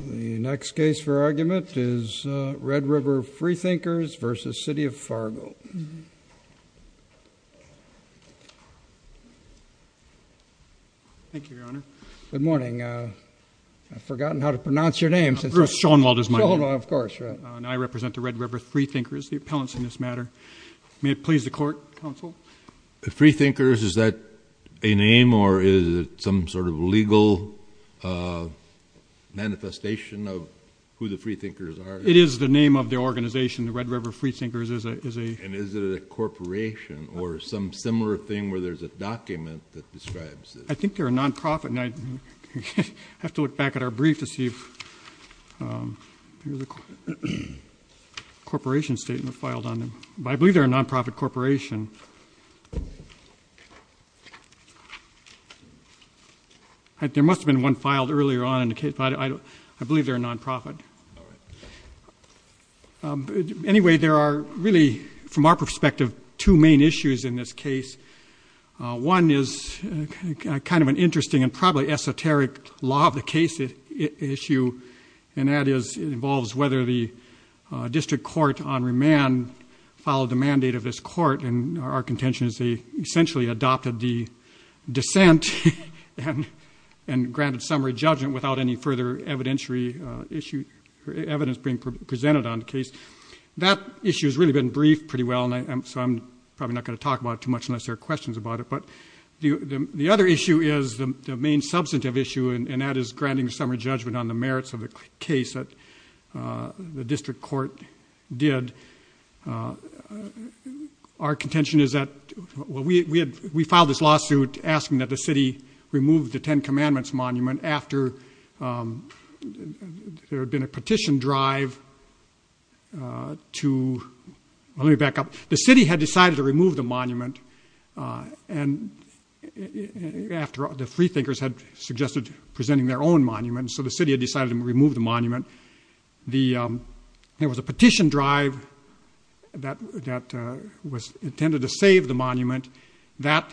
The next case for argument is Red River Freethinkers v. City of Fargo. I represent the Red River Freethinkers, the appellants in this matter. May it please the court, counsel? Freethinkers, is that a name or is it some sort of legal manifestation of who the Freethinkers are? It is the name of the organization. And is it a corporation or some similar thing where there's a document that describes it? I think they're a non-profit. I have to look back at our brief to see if there's a corporation statement filed on them. But I believe they're a non-profit corporation. There must have been one filed earlier on in the case. I believe they're a non-profit. Anyway, there are really, from our perspective, two main issues in this case. One is kind of an interesting and probably esoteric law of the case issue. And that involves whether the district court on remand followed the mandate of this court. And our contention is they essentially adopted the dissent and granted summary judgment without any further evidence being presented on the case. That issue has really been briefed pretty well, so I'm probably not going to talk about it too much unless there are questions about it. But the other issue is the main substantive issue, and that is granting summary judgment on the merits of the case that the district court did. Our contention is that we filed this lawsuit asking that the city remove the Ten Commandments monument after there had been a petition drive to, let me back up, the city had decided to remove the monument after the Freethinkers had suggested presenting their own monument. So the city had decided to remove the monument. There was a petition drive that was intended to save the monument that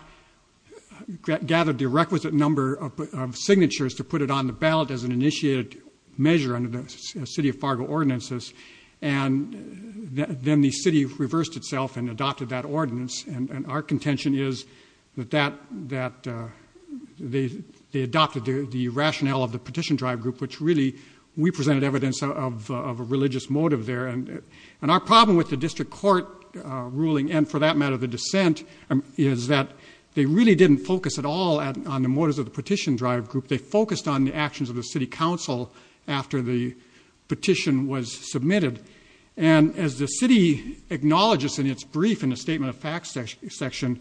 gathered the requisite number of signatures to put it on the ballot as an initiated measure under the city of Fargo ordinances. And then the city reversed itself and adopted that ordinance. And our contention is that they adopted the rationale of the petition drive group, which really we presented evidence of a religious motive there. And our problem with the district court ruling, and for that matter the dissent, is that they really didn't focus at all on the motives of the petition drive group. They focused on the actions of the city council after the petition was submitted. And as the city acknowledges in its brief in the statement of facts section,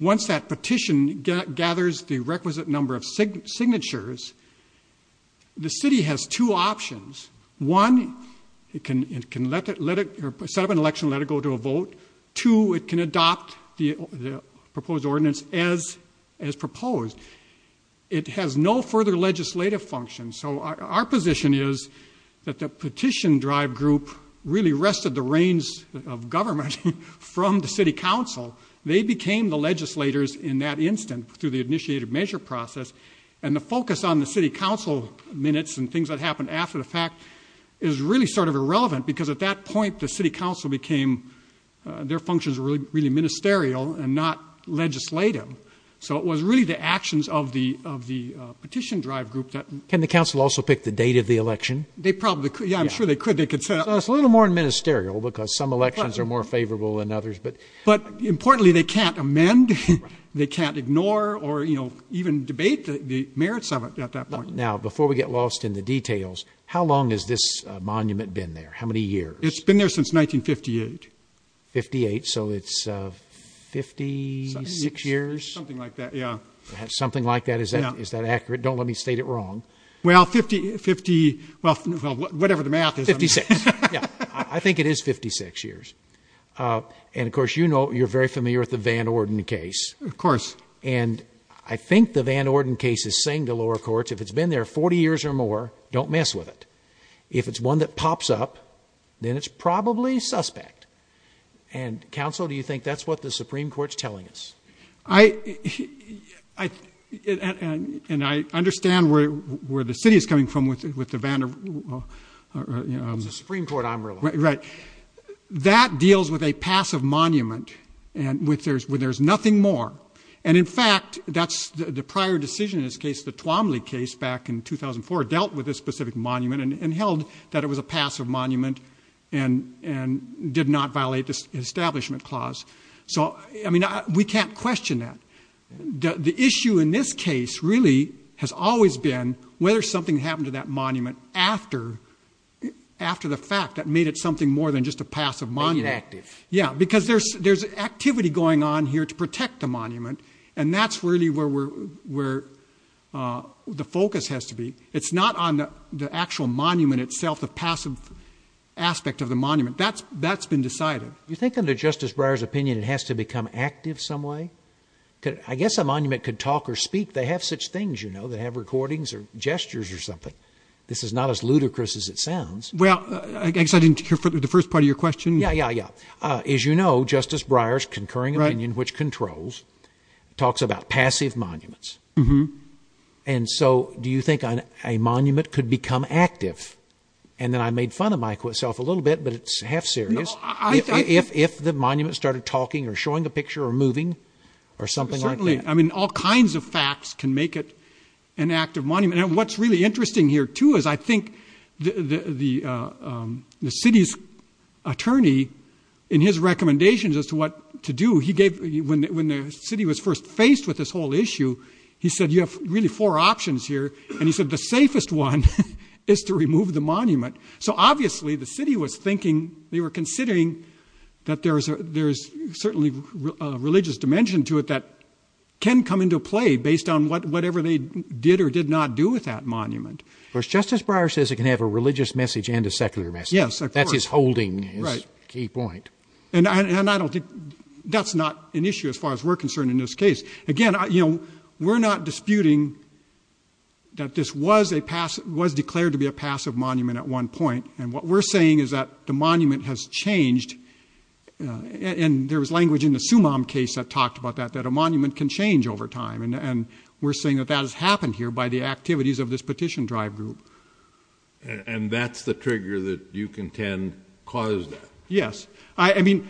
once that petition gathers the requisite number of signatures, the city has two options. One, it can set up an election and let it go to a vote. Two, it can adopt the proposed ordinance as proposed. It has no further legislative function. So our position is that the petition drive group really wrested the reins of government from the city council. They became the legislators in that instant through the initiated measure process. And the focus on the city council minutes and things that happened after the fact is really sort of irrelevant, because at that point the city council became, their functions were really ministerial and not legislative. So it was really the actions of the petition drive group that... Can the council also pick the date of the election? They probably could. Yeah, I'm sure they could. They could set up... So it's a little more ministerial, because some elections are more favorable than others. But importantly, they can't amend, they can't ignore or even debate the merits of it at that point. Now, before we get lost in the details, how long has this monument been there? How many years? It's been there since 1958. 58, so it's 56 years? Something like that. Yeah. Something like that. Is that accurate? Don't let me state it wrong. Well, 50... 50... Well, whatever the math is. 56. Yeah. I think it is 56 years. And of course, you know, you're very familiar with the Van Orden case. Of course. And I think the Van Orden case is saying to lower courts, if it's been there 40 years or more, don't mess with it. If it's one that pops up, then it's probably suspect. And counsel, do you think that's what the Supreme Court's telling us? And I understand where the city is coming from with the Van... It's the Supreme Court I'm referring to. Right. But that deals with a passive monument when there's nothing more. And in fact, that's the prior decision in this case, the Twomley case back in 2004 dealt with this specific monument and held that it was a passive monument and did not violate the Establishment Clause. So I mean, we can't question that. The issue in this case really has always been whether something happened to that monument after the fact that made it something more than just a passive monument. Being inactive. Yeah, because there's activity going on here to protect the monument. And that's really where the focus has to be. It's not on the actual monument itself, the passive aspect of the monument. That's been decided. You think under Justice Breyer's opinion, it has to become active some way? I guess a monument could talk or speak. They have such things, you know, they have recordings or gestures or something. This is not as ludicrous as it sounds. Well, I guess I didn't hear the first part of your question. Yeah, yeah, yeah. As you know, Justice Breyer's concurring opinion, which controls, talks about passive monuments. And so do you think a monument could become active? And then I made fun of myself a little bit, but it's half serious. If the monument started talking or showing a picture or moving or something like that. Certainly. I mean, all kinds of facts can make it an active monument. And what's really interesting here, too, is I think the city's attorney, in his recommendations as to what to do, he gave, when the city was first faced with this whole issue, he said, you have really four options here. And he said, the safest one is to remove the monument. So obviously the city was thinking, they were considering that there's certainly a religious dimension to it that can come into play based on what whatever they did or did not do with that monument. Of course, Justice Breyer says it can have a religious message and a secular message. Yes. That's his holding. Right. Key point. And I don't think that's not an issue as far as we're concerned in this case. Again, you know, we're not disputing that this was a pass, was declared to be a passive monument at one point. And what we're saying is that the monument has changed. And there was language in the Sumam case that talked about that, that a monument can change over time. And we're saying that that has happened here by the activities of this petition drive group. And that's the trigger that you contend caused that. Yes. I mean,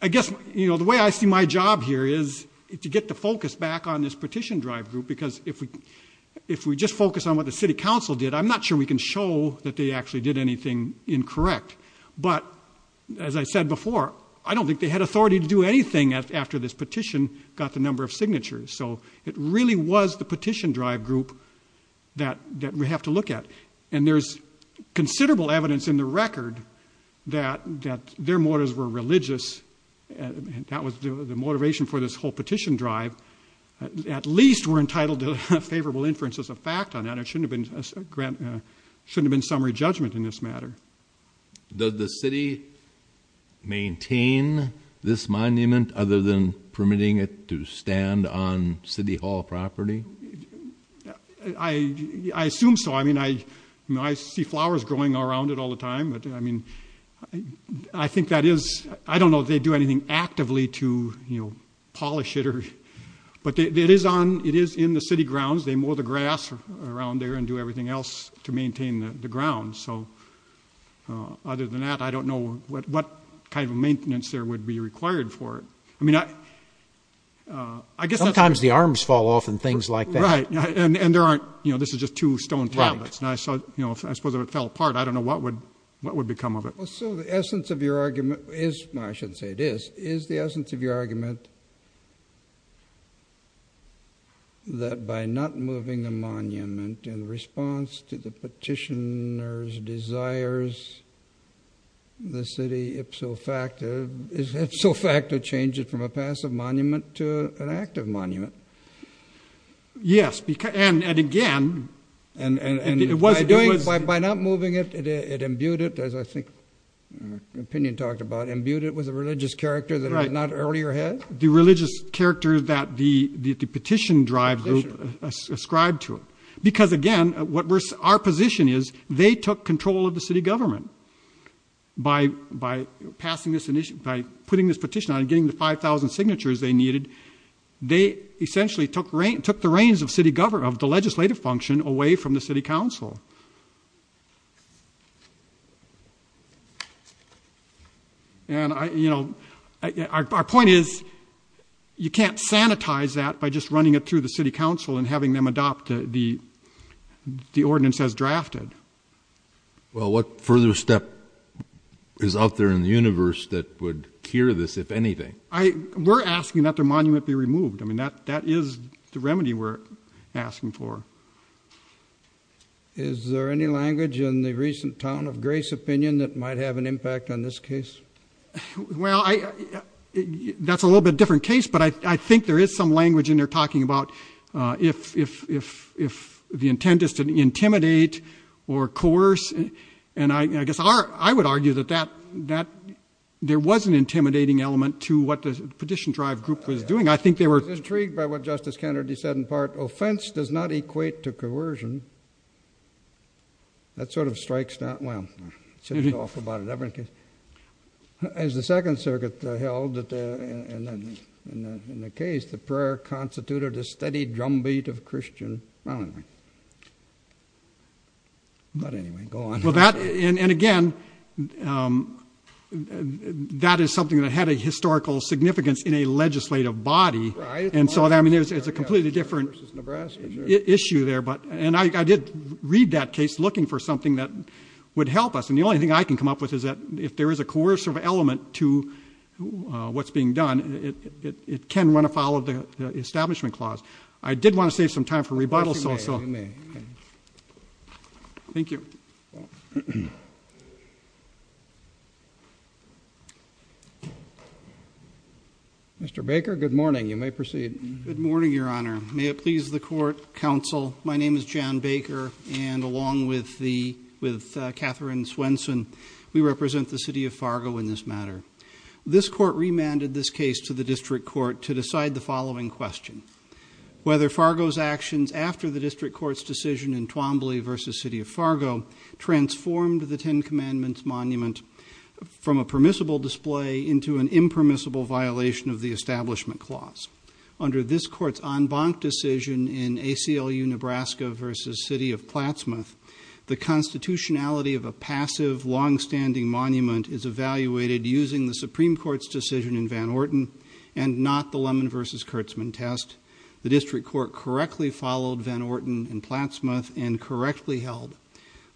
I guess, you know, the way I see my job here is to get the focus back on this petition drive group, because if we just focus on what the city council did, I'm not sure we can show that they actually did anything incorrect. But as I said before, I don't think they had authority to do anything after this petition got the number of signatures. So it really was the petition drive group that we have to look at. And there's considerable evidence in the record that their motives were religious. That was the motivation for this whole petition drive. At least we're entitled to favorable inference as a fact on that. That shouldn't have been summary judgment in this matter. Does the city maintain this monument other than permitting it to stand on city hall property? I assume so. I mean, I see flowers growing around it all the time, but I mean, I think that is, I don't know if they do anything actively to, you know, polish it or, but it is on, it is in the city grounds. They mow the grass around there and do everything else to maintain the ground. So other than that, I don't know what kind of maintenance there would be required for it. I mean, I guess sometimes the arms fall off and things like that. And there aren't, you know, this is just two stone tablets and I saw, you know, I suppose if it fell apart, I don't know what would, what would become of it. So the essence of your argument is, I shouldn't say it is, is the essence of your argument that, that by not moving the monument in response to the petitioner's desires, the city ipso facto, is ipso facto change it from a passive monument to an active monument? Yes. And, and again, and, and by doing it, by not moving it, it imbued it, as I think opinion talked about, imbued it with a religious character that was not earlier had the religious character that the, the, the petition drive group ascribed to it. Because again, what we're, our position is they took control of the city government by, by passing this initiative, by putting this petition on and getting the 5,000 signatures they needed. They essentially took rain, took the reins of city government, of the legislative function away from the city council. And I, you know, I, our, our point is you can't sanitize that by just running it through the city council and having them adopt the, the, the ordinance as drafted. Well, what further step is out there in the universe that would cure this, if anything? I, we're asking that their monument be removed. I mean, that, that is the remedy we're asking for. Is there any language in the recent town of Grace opinion that might have an impact on this case? Well, I, that's a little bit different case, but I, I think there is some language in there talking about if, if, if, if the intent is to intimidate or coerce, and I, I guess our, I would argue that that, that there was an intimidating element to what the petition drive group was doing. I think they were intrigued by what Justice Kennedy said in part, offense does not equate to coercion. That sort of strikes that well, it's just awful about it ever in case as the second circuit held that, uh, and then in the case, the prayer constituted a steady drumbeat of Christian. But anyway, go on, well, that, and, and again, um, that is something that had a historical significance in a legislative body. And so that, I mean, it was, it's a completely different issue there, but, and I, I did read that case looking for something that would help us. And the only thing I can come up with is that if there is a coercive element to, uh, what's being done, it, it, it can run afoul of the establishment clause. I did want to save some time for rebuttal, so, so thank you. Mr. Baker, good morning. You may proceed. Good morning, Your Honor. May it please the court, counsel. My name is Jan Baker and along with the, with, uh, Katherine Swenson, we represent the city of Fargo in this matter. This court remanded this case to the district court to decide the following question, whether Fargo's actions after the district court's decision in Twombly v. City of Fargo transformed the Ten Commandments monument from a permissible display into an impermissible violation of the establishment clause. Under this court's en banc decision in ACLU Nebraska v. City of Plattsmouth, the constitutionality of a passive, longstanding monument is evaluated using the Supreme Court's decision in Van Orton and not the Lemon v. Kurtzman test. The district court correctly followed Van Orton and Plattsmouth and correctly held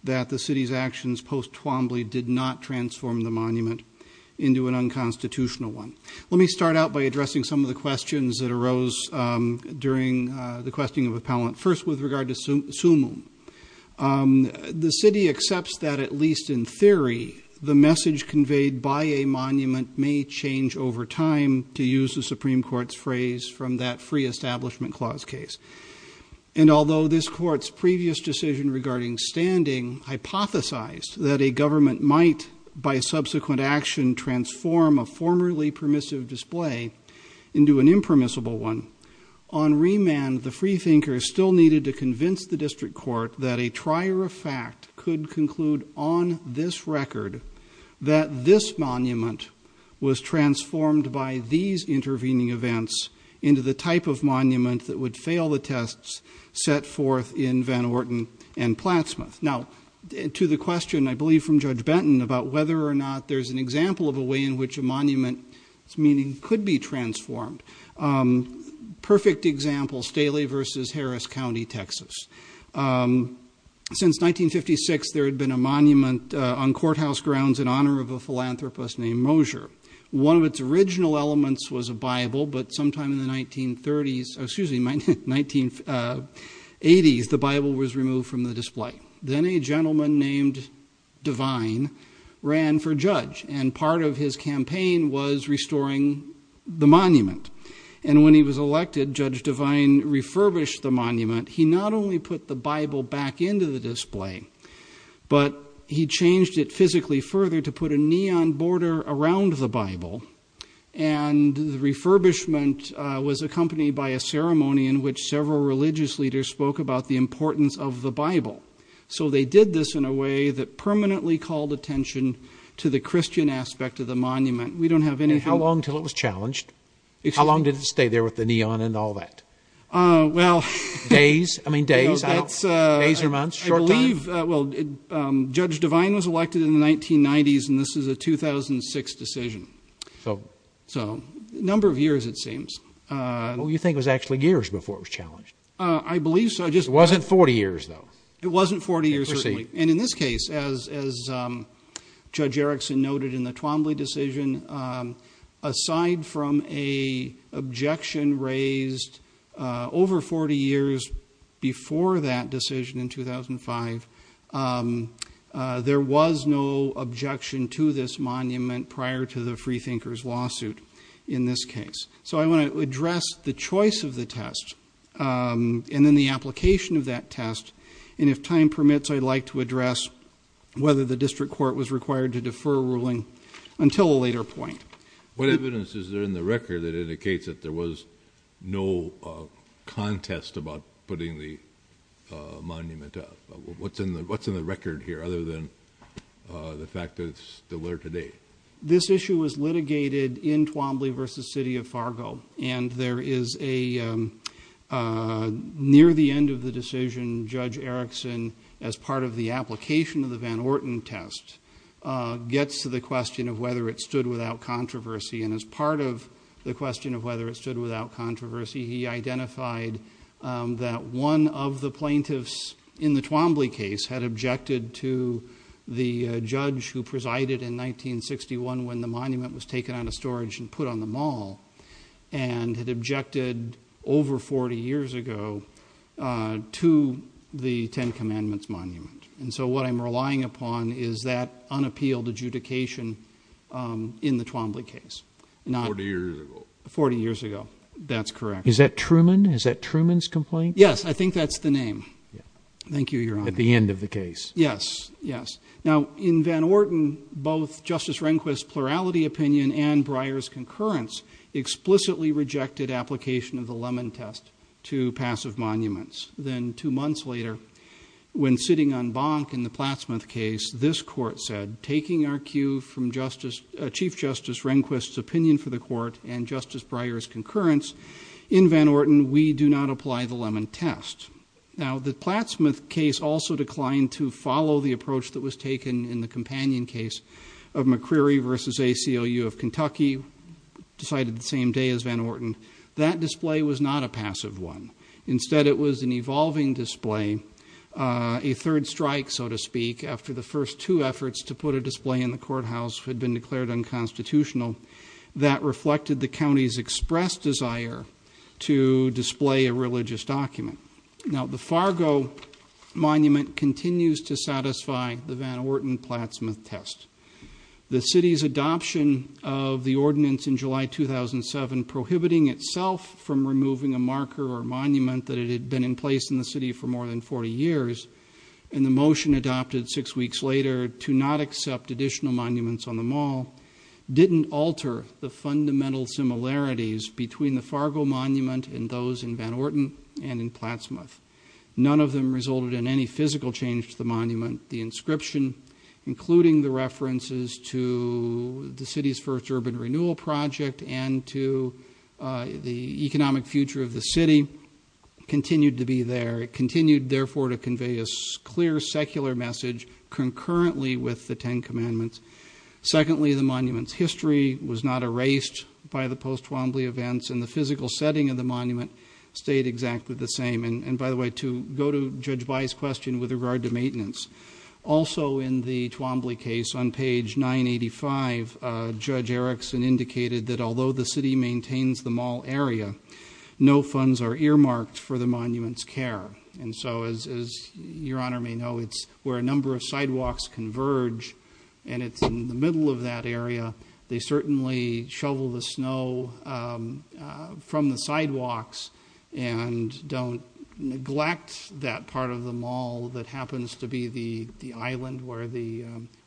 that the city's actions post-Twombly did not transform the monument into an unconstitutional one. Let me start out by addressing some of the questions that arose, um, during, uh, the questing of appellant. First, with regard to sumum, um, the city accepts that, at least in theory, the message conveyed by a monument may change over time, to use the Supreme Court's phrase, from that free establishment clause case. And although this court's previous decision regarding standing hypothesized that a government might, by subsequent action, transform a formerly permissive display into an impermissible one, on remand the freethinkers still needed to convince the district court that a trier of fact could conclude on this record that this monument was transformed by these intervening events into the type of monument that would fail the tests set forth in Van Orton and Plattsmouth. Now, to the question, I believe from Judge Benton, about whether or not there's an example of a way in which a monument's meaning could be transformed, um, perfect example, Staley v. Harris County, Texas. Um, since 1956, there had been a monument, uh, on courthouse grounds in honor of a philanthropist named Mosier. One of its original elements was a Bible, but sometime in the 1930s, excuse me, 1980s, the Bible was removed from the display. Then a gentleman named Devine ran for judge, and part of his campaign was restoring the monument. And when he was elected, Judge Devine refurbished the monument. He not only put the Bible back into the display, but he changed it physically further to put a neon border around the Bible, and the refurbishment was accompanied by a ceremony in which several religious leaders spoke about the importance of the Bible. So they did this in a way that permanently called attention to the Christian aspect of the monument. We don't have any... And how long until it was challenged? How long did it stay there with the neon and all that? Uh, well... Days? I mean, days? No, that's, uh... Days or months? Short time? I believe, well, Judge Devine was elected in the 1990s, and this is a 2006 decision. So a number of years, it seems. What do you think was actually years before it was challenged? I believe so. It wasn't 40 years, though. It wasn't 40 years. And in this case, as Judge Erickson noted in the Twombly decision, aside from an objection raised over 40 years before that decision in 2005, there was no objection to this monument prior to the Freethinkers' lawsuit in this case. So I want to address the choice of the test, and then the application of that test, and if time permits, I'd like to address whether the district court was required to defer ruling until a later point. What evidence is there in the record that indicates that there was no contest about putting the monument up? What's in the record here, other than the fact that it's still there today? This issue was litigated in Twombly v. City of Fargo, and there is a... Near the end of the decision, Judge Erickson, as part of the application of the Van Orten test, gets to the question of whether it stood without controversy, and as part of the question of whether it stood without controversy, he identified that one of the plaintiffs in the Twombly case had objected to the judge who presided in 1961 when the monument was taken out of storage and put on the mall, and had objected over 40 years ago to the Ten Commandments monument. And so what I'm relying upon is that unappealed adjudication in the Twombly case. Forty years ago. Forty years ago. That's correct. Is that Truman? Is that Truman's complaint? Yes. I think that's the name. Thank you, Your Honor. At the end of the case. Yes. Yes. Now, in Van Orten, both Justice Rehnquist's plurality opinion and Breyer's concurrence explicitly rejected application of the Lemon test to passive monuments. Then two months later, when sitting on Bonk in the Platt-Smith case, this court said, taking our cue from Chief Justice Rehnquist's opinion for the court and Justice Breyer's concurrence in Van Orten, we do not apply the Lemon test. Now, the Platt-Smith case also declined to follow the approach that was taken in the Companion case of McCreary v. ACLU of Kentucky, decided the same day as Van Orten. That display was not a passive one. Instead, it was an evolving display, a third strike, so to speak, after the first two efforts to put a display in the courthouse had been declared unconstitutional. That reflected the county's expressed desire to display a religious document. Now, the Fargo monument continues to satisfy the Van Orten Platt-Smith test. The city's adoption of the ordinance in July 2007 prohibiting itself from removing a marker or monument that had been in place in the city for more than 40 years, and the motion adopted six weeks later to not accept additional monuments on the Mall, didn't alter the fundamental similarities between the Fargo monument and those in Van Orten and in Platt-Smith. None of them resulted in any physical change to the monument. The inscription, including the references to the city's first urban renewal project and to the economic future of the city, continued to be there. It continued, therefore, to convey a clear secular message concurrently with the Ten Commandments. Secondly, the monument's history was not erased by the post-Twombly events, and the physical setting of the monument stayed exactly the same. And by the way, to go to Judge By's question with regard to maintenance, also in the Twombly case on page 985, Judge Erickson indicated that although the city maintains the Mall area, no funds are earmarked for the monument's care. And so, as Your Honor may know, it's where a number of sidewalks converge, and it's in the middle of that area. They certainly shovel the snow from the sidewalks and don't neglect that part of the Mall that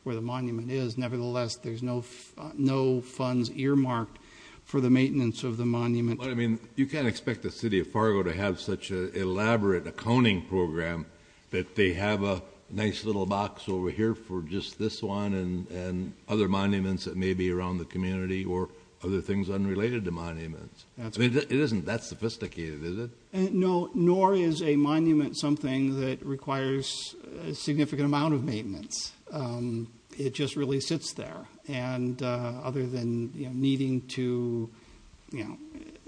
where the monument is, nevertheless, there's no funds earmarked for the maintenance of the monument. But, I mean, you can't expect the City of Fargo to have such an elaborate accounting program that they have a nice little box over here for just this one and other monuments that may be around the community or other things unrelated to monuments. It isn't that sophisticated, is it? No, nor is a monument something that requires a significant amount of maintenance. It just really sits there. And other than needing to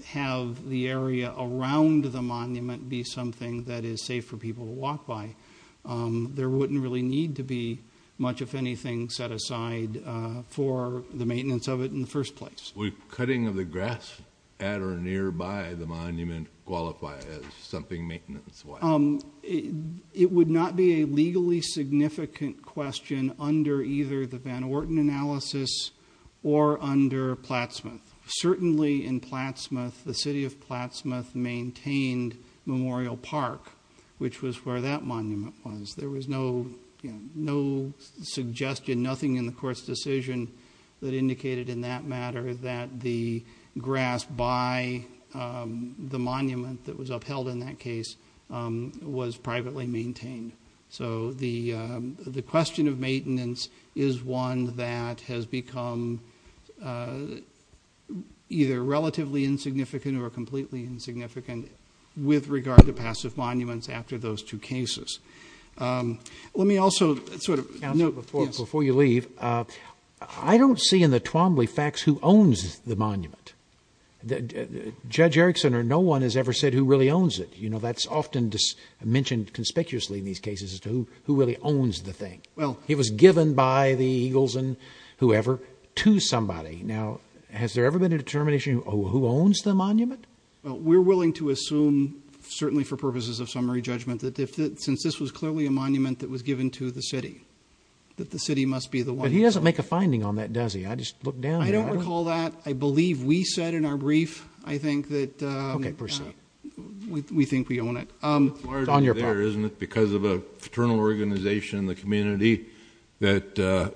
have the area around the monument be something that is safe for people to walk by, there wouldn't really need to be much, if anything, set aside for the maintenance of it in the first place. Would cutting of the grass at or nearby the monument qualify as something maintenance-wise? It would not be a legally significant question under either the Van Orten analysis or under Platt-Smith. Certainly, in Platt-Smith, the City of Platt-Smith maintained Memorial Park, which was where that monument was. There was no suggestion, nothing in the Court's decision that indicated in that matter that the grass by the monument that was upheld in that case was privately maintained. So the question of maintenance is one that has become either relatively insignificant or completely insignificant with regard to passive monuments after those two cases. Let me also sort of note before you leave, I don't see in the Twombly facts who owns the monument. Judge Erickson or no one has ever said who really owns it. That's often mentioned conspicuously in these cases as to who really owns the thing. It was given by the Eagles and whoever to somebody. Has there ever been a determination of who owns the monument? We're willing to assume, certainly for purposes of summary judgment, that since this was clearly a monument that was given to the City, that the City must be the one who owns it. But he doesn't make a finding on that, does he? I just looked down there. I don't recall that. I believe we said in our brief, I think, that we think we own it. It's larger there, isn't it, because of a fraternal organization in the community that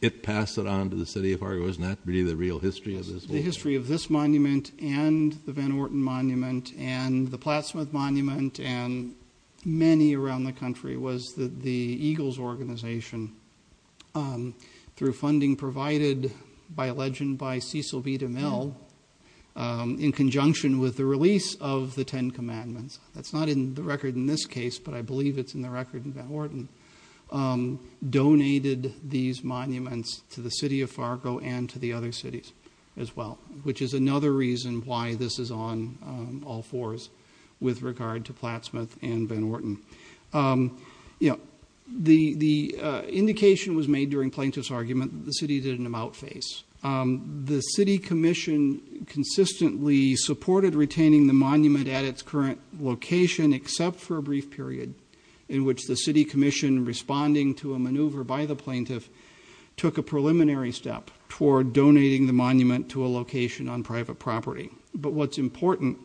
it passed it on to the City of Oregon. Isn't that really the real history of this? The history of this monument and the Van Orten Monument and the Platt-Smith Monument and many around the country was that the Eagles organization, through funding provided by a legend by Cecil B. DeMille, in conjunction with the release of the Ten Commandments, that's not in the record in this case, but I believe it's in the record in Van Orten, donated these monuments to the City of Fargo and to the other cities as well, which is another reason why this is on all fours with regard to Platt-Smith and Van Orten. The indication was made during Plaintiff's argument that the City didn't amount face. The City Commission consistently supported retaining the monument at its current location except for a brief period in which the City Commission, responding to a maneuver by the Plaintiff, took a preliminary step toward donating the monument to a location on private property. But what's important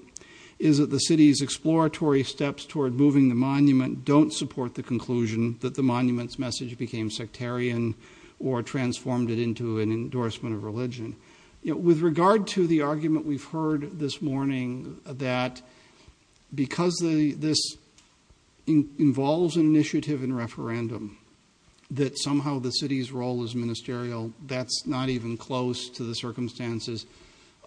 is that the City's exploratory steps toward moving the monument don't support the conclusion that the monument's message became sectarian or transformed it into an endorsement of religion. With regard to the argument we've heard this morning, that because this involves an initiative in referendum, that somehow the City's role as ministerial, that's not even close to the circumstances,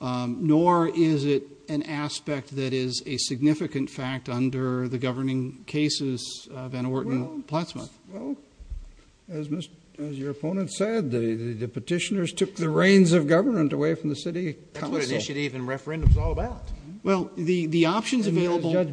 nor is it an aspect that is a significant fact under the governing cases of Van Orten and Platt-Smith. Well, as your opponent said, the petitioners took the reins of government away from the City Council. That's what initiative and referendum is all about. Well, the options available... As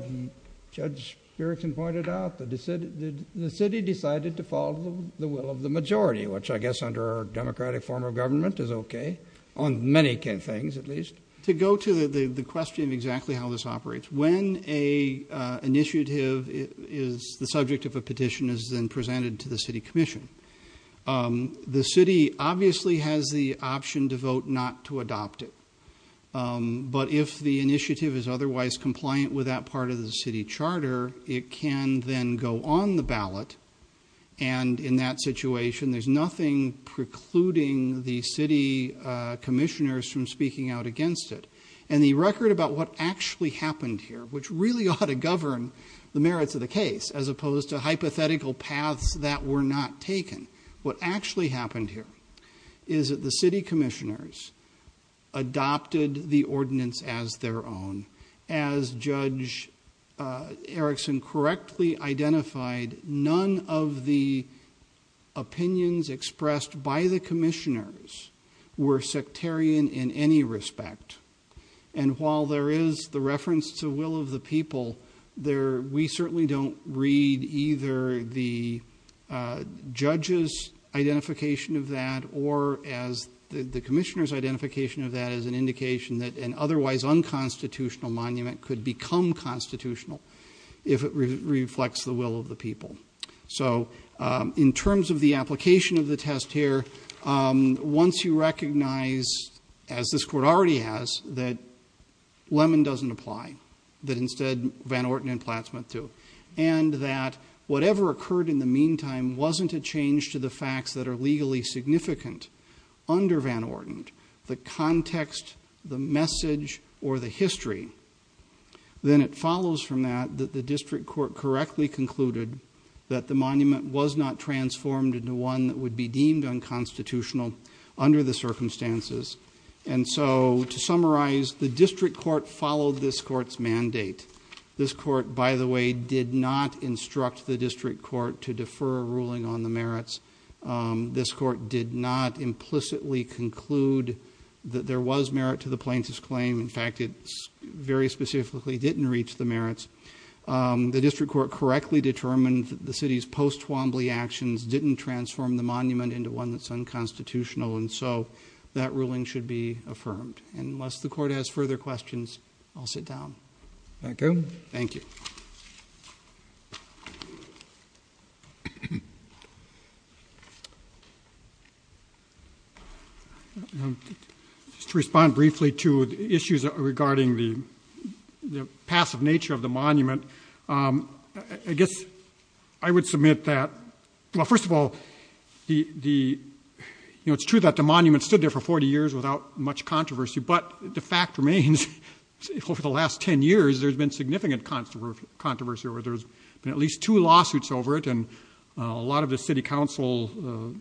Judge Spierickson pointed out, the City decided to follow the will of the majority, which I guess under our democratic form of government is okay, on many things at least. To go to the question of exactly how this operates, when an initiative is the subject of a petition is then presented to the City Commission. The City obviously has the option to vote not to adopt it, but if the initiative is otherwise compliant with that part of the City Charter, it can then go on the ballot, and in that situation there's nothing precluding the City commissioners from speaking out against it. And the record about what actually happened here, which really ought to govern the merits of the case, as opposed to hypothetical paths that were not taken, what actually happened here is that the City commissioners adopted the ordinance as their own. As Judge Erickson correctly identified, none of the opinions expressed by the commissioners were sectarian in any respect. And while there is the reference to will of the people, we certainly don't read either the judge's identification of that or the commissioner's identification of that as an indication that an otherwise unconstitutional monument could become constitutional if it reflects the will of the people. So in terms of the application of the test here, once you recognize, as this Court already has, that Lemon doesn't apply, that instead Van Orten and Platt Smith do, and that whatever occurred in the meantime wasn't a change to the facts that are legally significant under Van Orten, the context, the message, or the history, then it follows from that that the monument was not transformed into one that would be deemed unconstitutional under the circumstances. And so to summarize, the District Court followed this Court's mandate. This Court, by the way, did not instruct the District Court to defer a ruling on the merits. This Court did not implicitly conclude that there was merit to the plaintiff's claim. The District Court correctly determined that the City's post-Twombly actions didn't transform the monument into one that's unconstitutional, and so that ruling should be affirmed. And unless the Court has further questions, I'll sit down. Thank you. Thank you. Just to respond briefly to issues regarding the passive nature of the monument, I guess I would submit that, well, first of all, it's true that the monument stood there for 40 years without much controversy, but the fact remains, over the last 10 years, there's been at least two lawsuits over it, and a lot of the City Council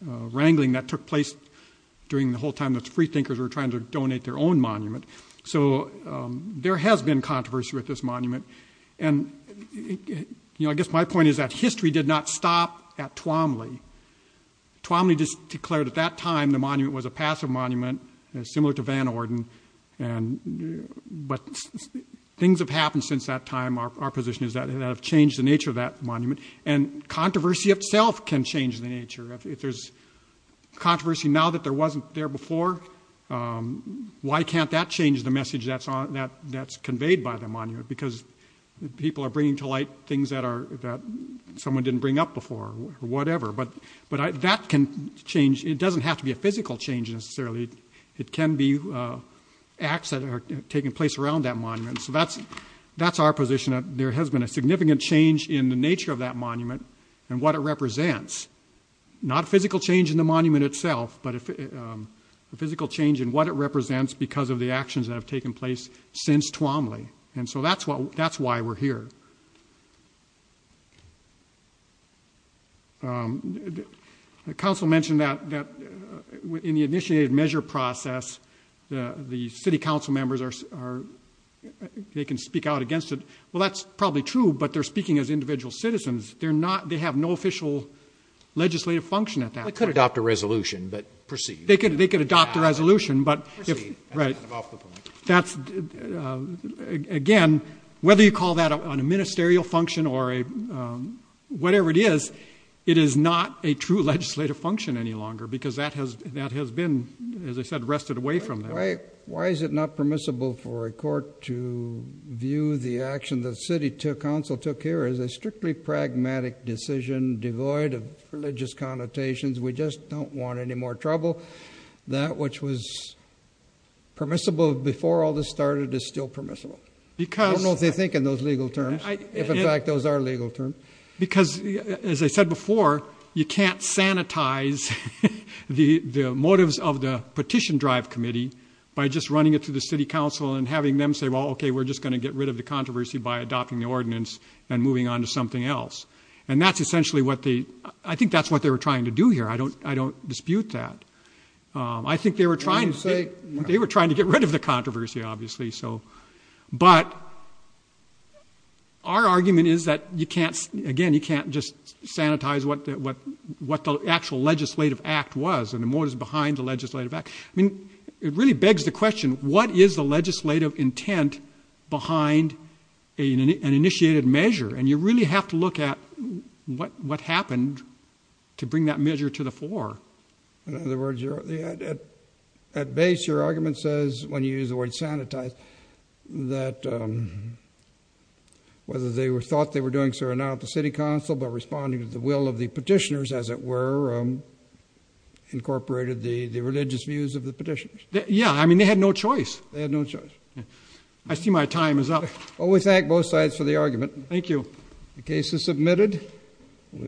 wrangling that took place during the whole time that freethinkers were trying to donate their own monument. So there has been controversy with this monument, and, you know, I guess my point is that history did not stop at Twombly. Twombly just declared at that time the monument was a passive monument, similar to Van Orden, but things have happened since that time, our position is that have changed the nature of that monument, and controversy itself can change the nature. If there's controversy now that there wasn't there before, why can't that change the message that's conveyed by the monument? Because people are bringing to light things that someone didn't bring up before, or whatever, but that can change. It doesn't have to be a physical change, necessarily. It can be acts that are taking place around that monument, so that's our position. There has been a significant change in the nature of that monument, and what it represents. Not a physical change in the monument itself, but a physical change in what it represents because of the actions that have taken place since Twombly, and so that's why we're here. The council mentioned that in the initiated measure process, the city council members are, they can speak out against it, well that's probably true, but they're speaking as individual citizens. They're not, they have no official legislative function at that point. They could adopt a resolution, but proceed. They could adopt a resolution, but if, right, that's, again, whether you call that on a ministerial function or whatever it is, it is not a true legislative function any longer because that has been, as I said, wrested away from them. Why is it not permissible for a court to view the action that the city council took here as a strictly pragmatic decision, devoid of religious connotations? We just don't want any more trouble. That which was permissible before all this started is still permissible. I don't know what they think in those legal terms, if in fact those are legal terms. Because as I said before, you can't sanitize the motives of the petition drive committee by just running it through the city council and having them say, well, okay, we're just going to get rid of the controversy by adopting the ordinance and moving on to something else. And that's essentially what they, I think that's what they were trying to do here. I don't dispute that. I think they were trying to get rid of the controversy, obviously. But our argument is that you can't, again, you can't just sanitize what the actual legislative act was and the motives behind the legislative act. I mean, it really begs the question, what is the legislative intent behind an initiated measure? And you really have to look at what happened to bring that measure to the floor. In other words, at base, your argument says, when you use the word sanitize, that whether they thought they were doing so or not, the city council, by responding to the will of the petitioners, as it were, incorporated the religious views of the petitioners. Yeah, I mean, they had no choice. They had no choice. I see my time is up. Well, we thank both sides for the argument. Thank you. The case is submitted.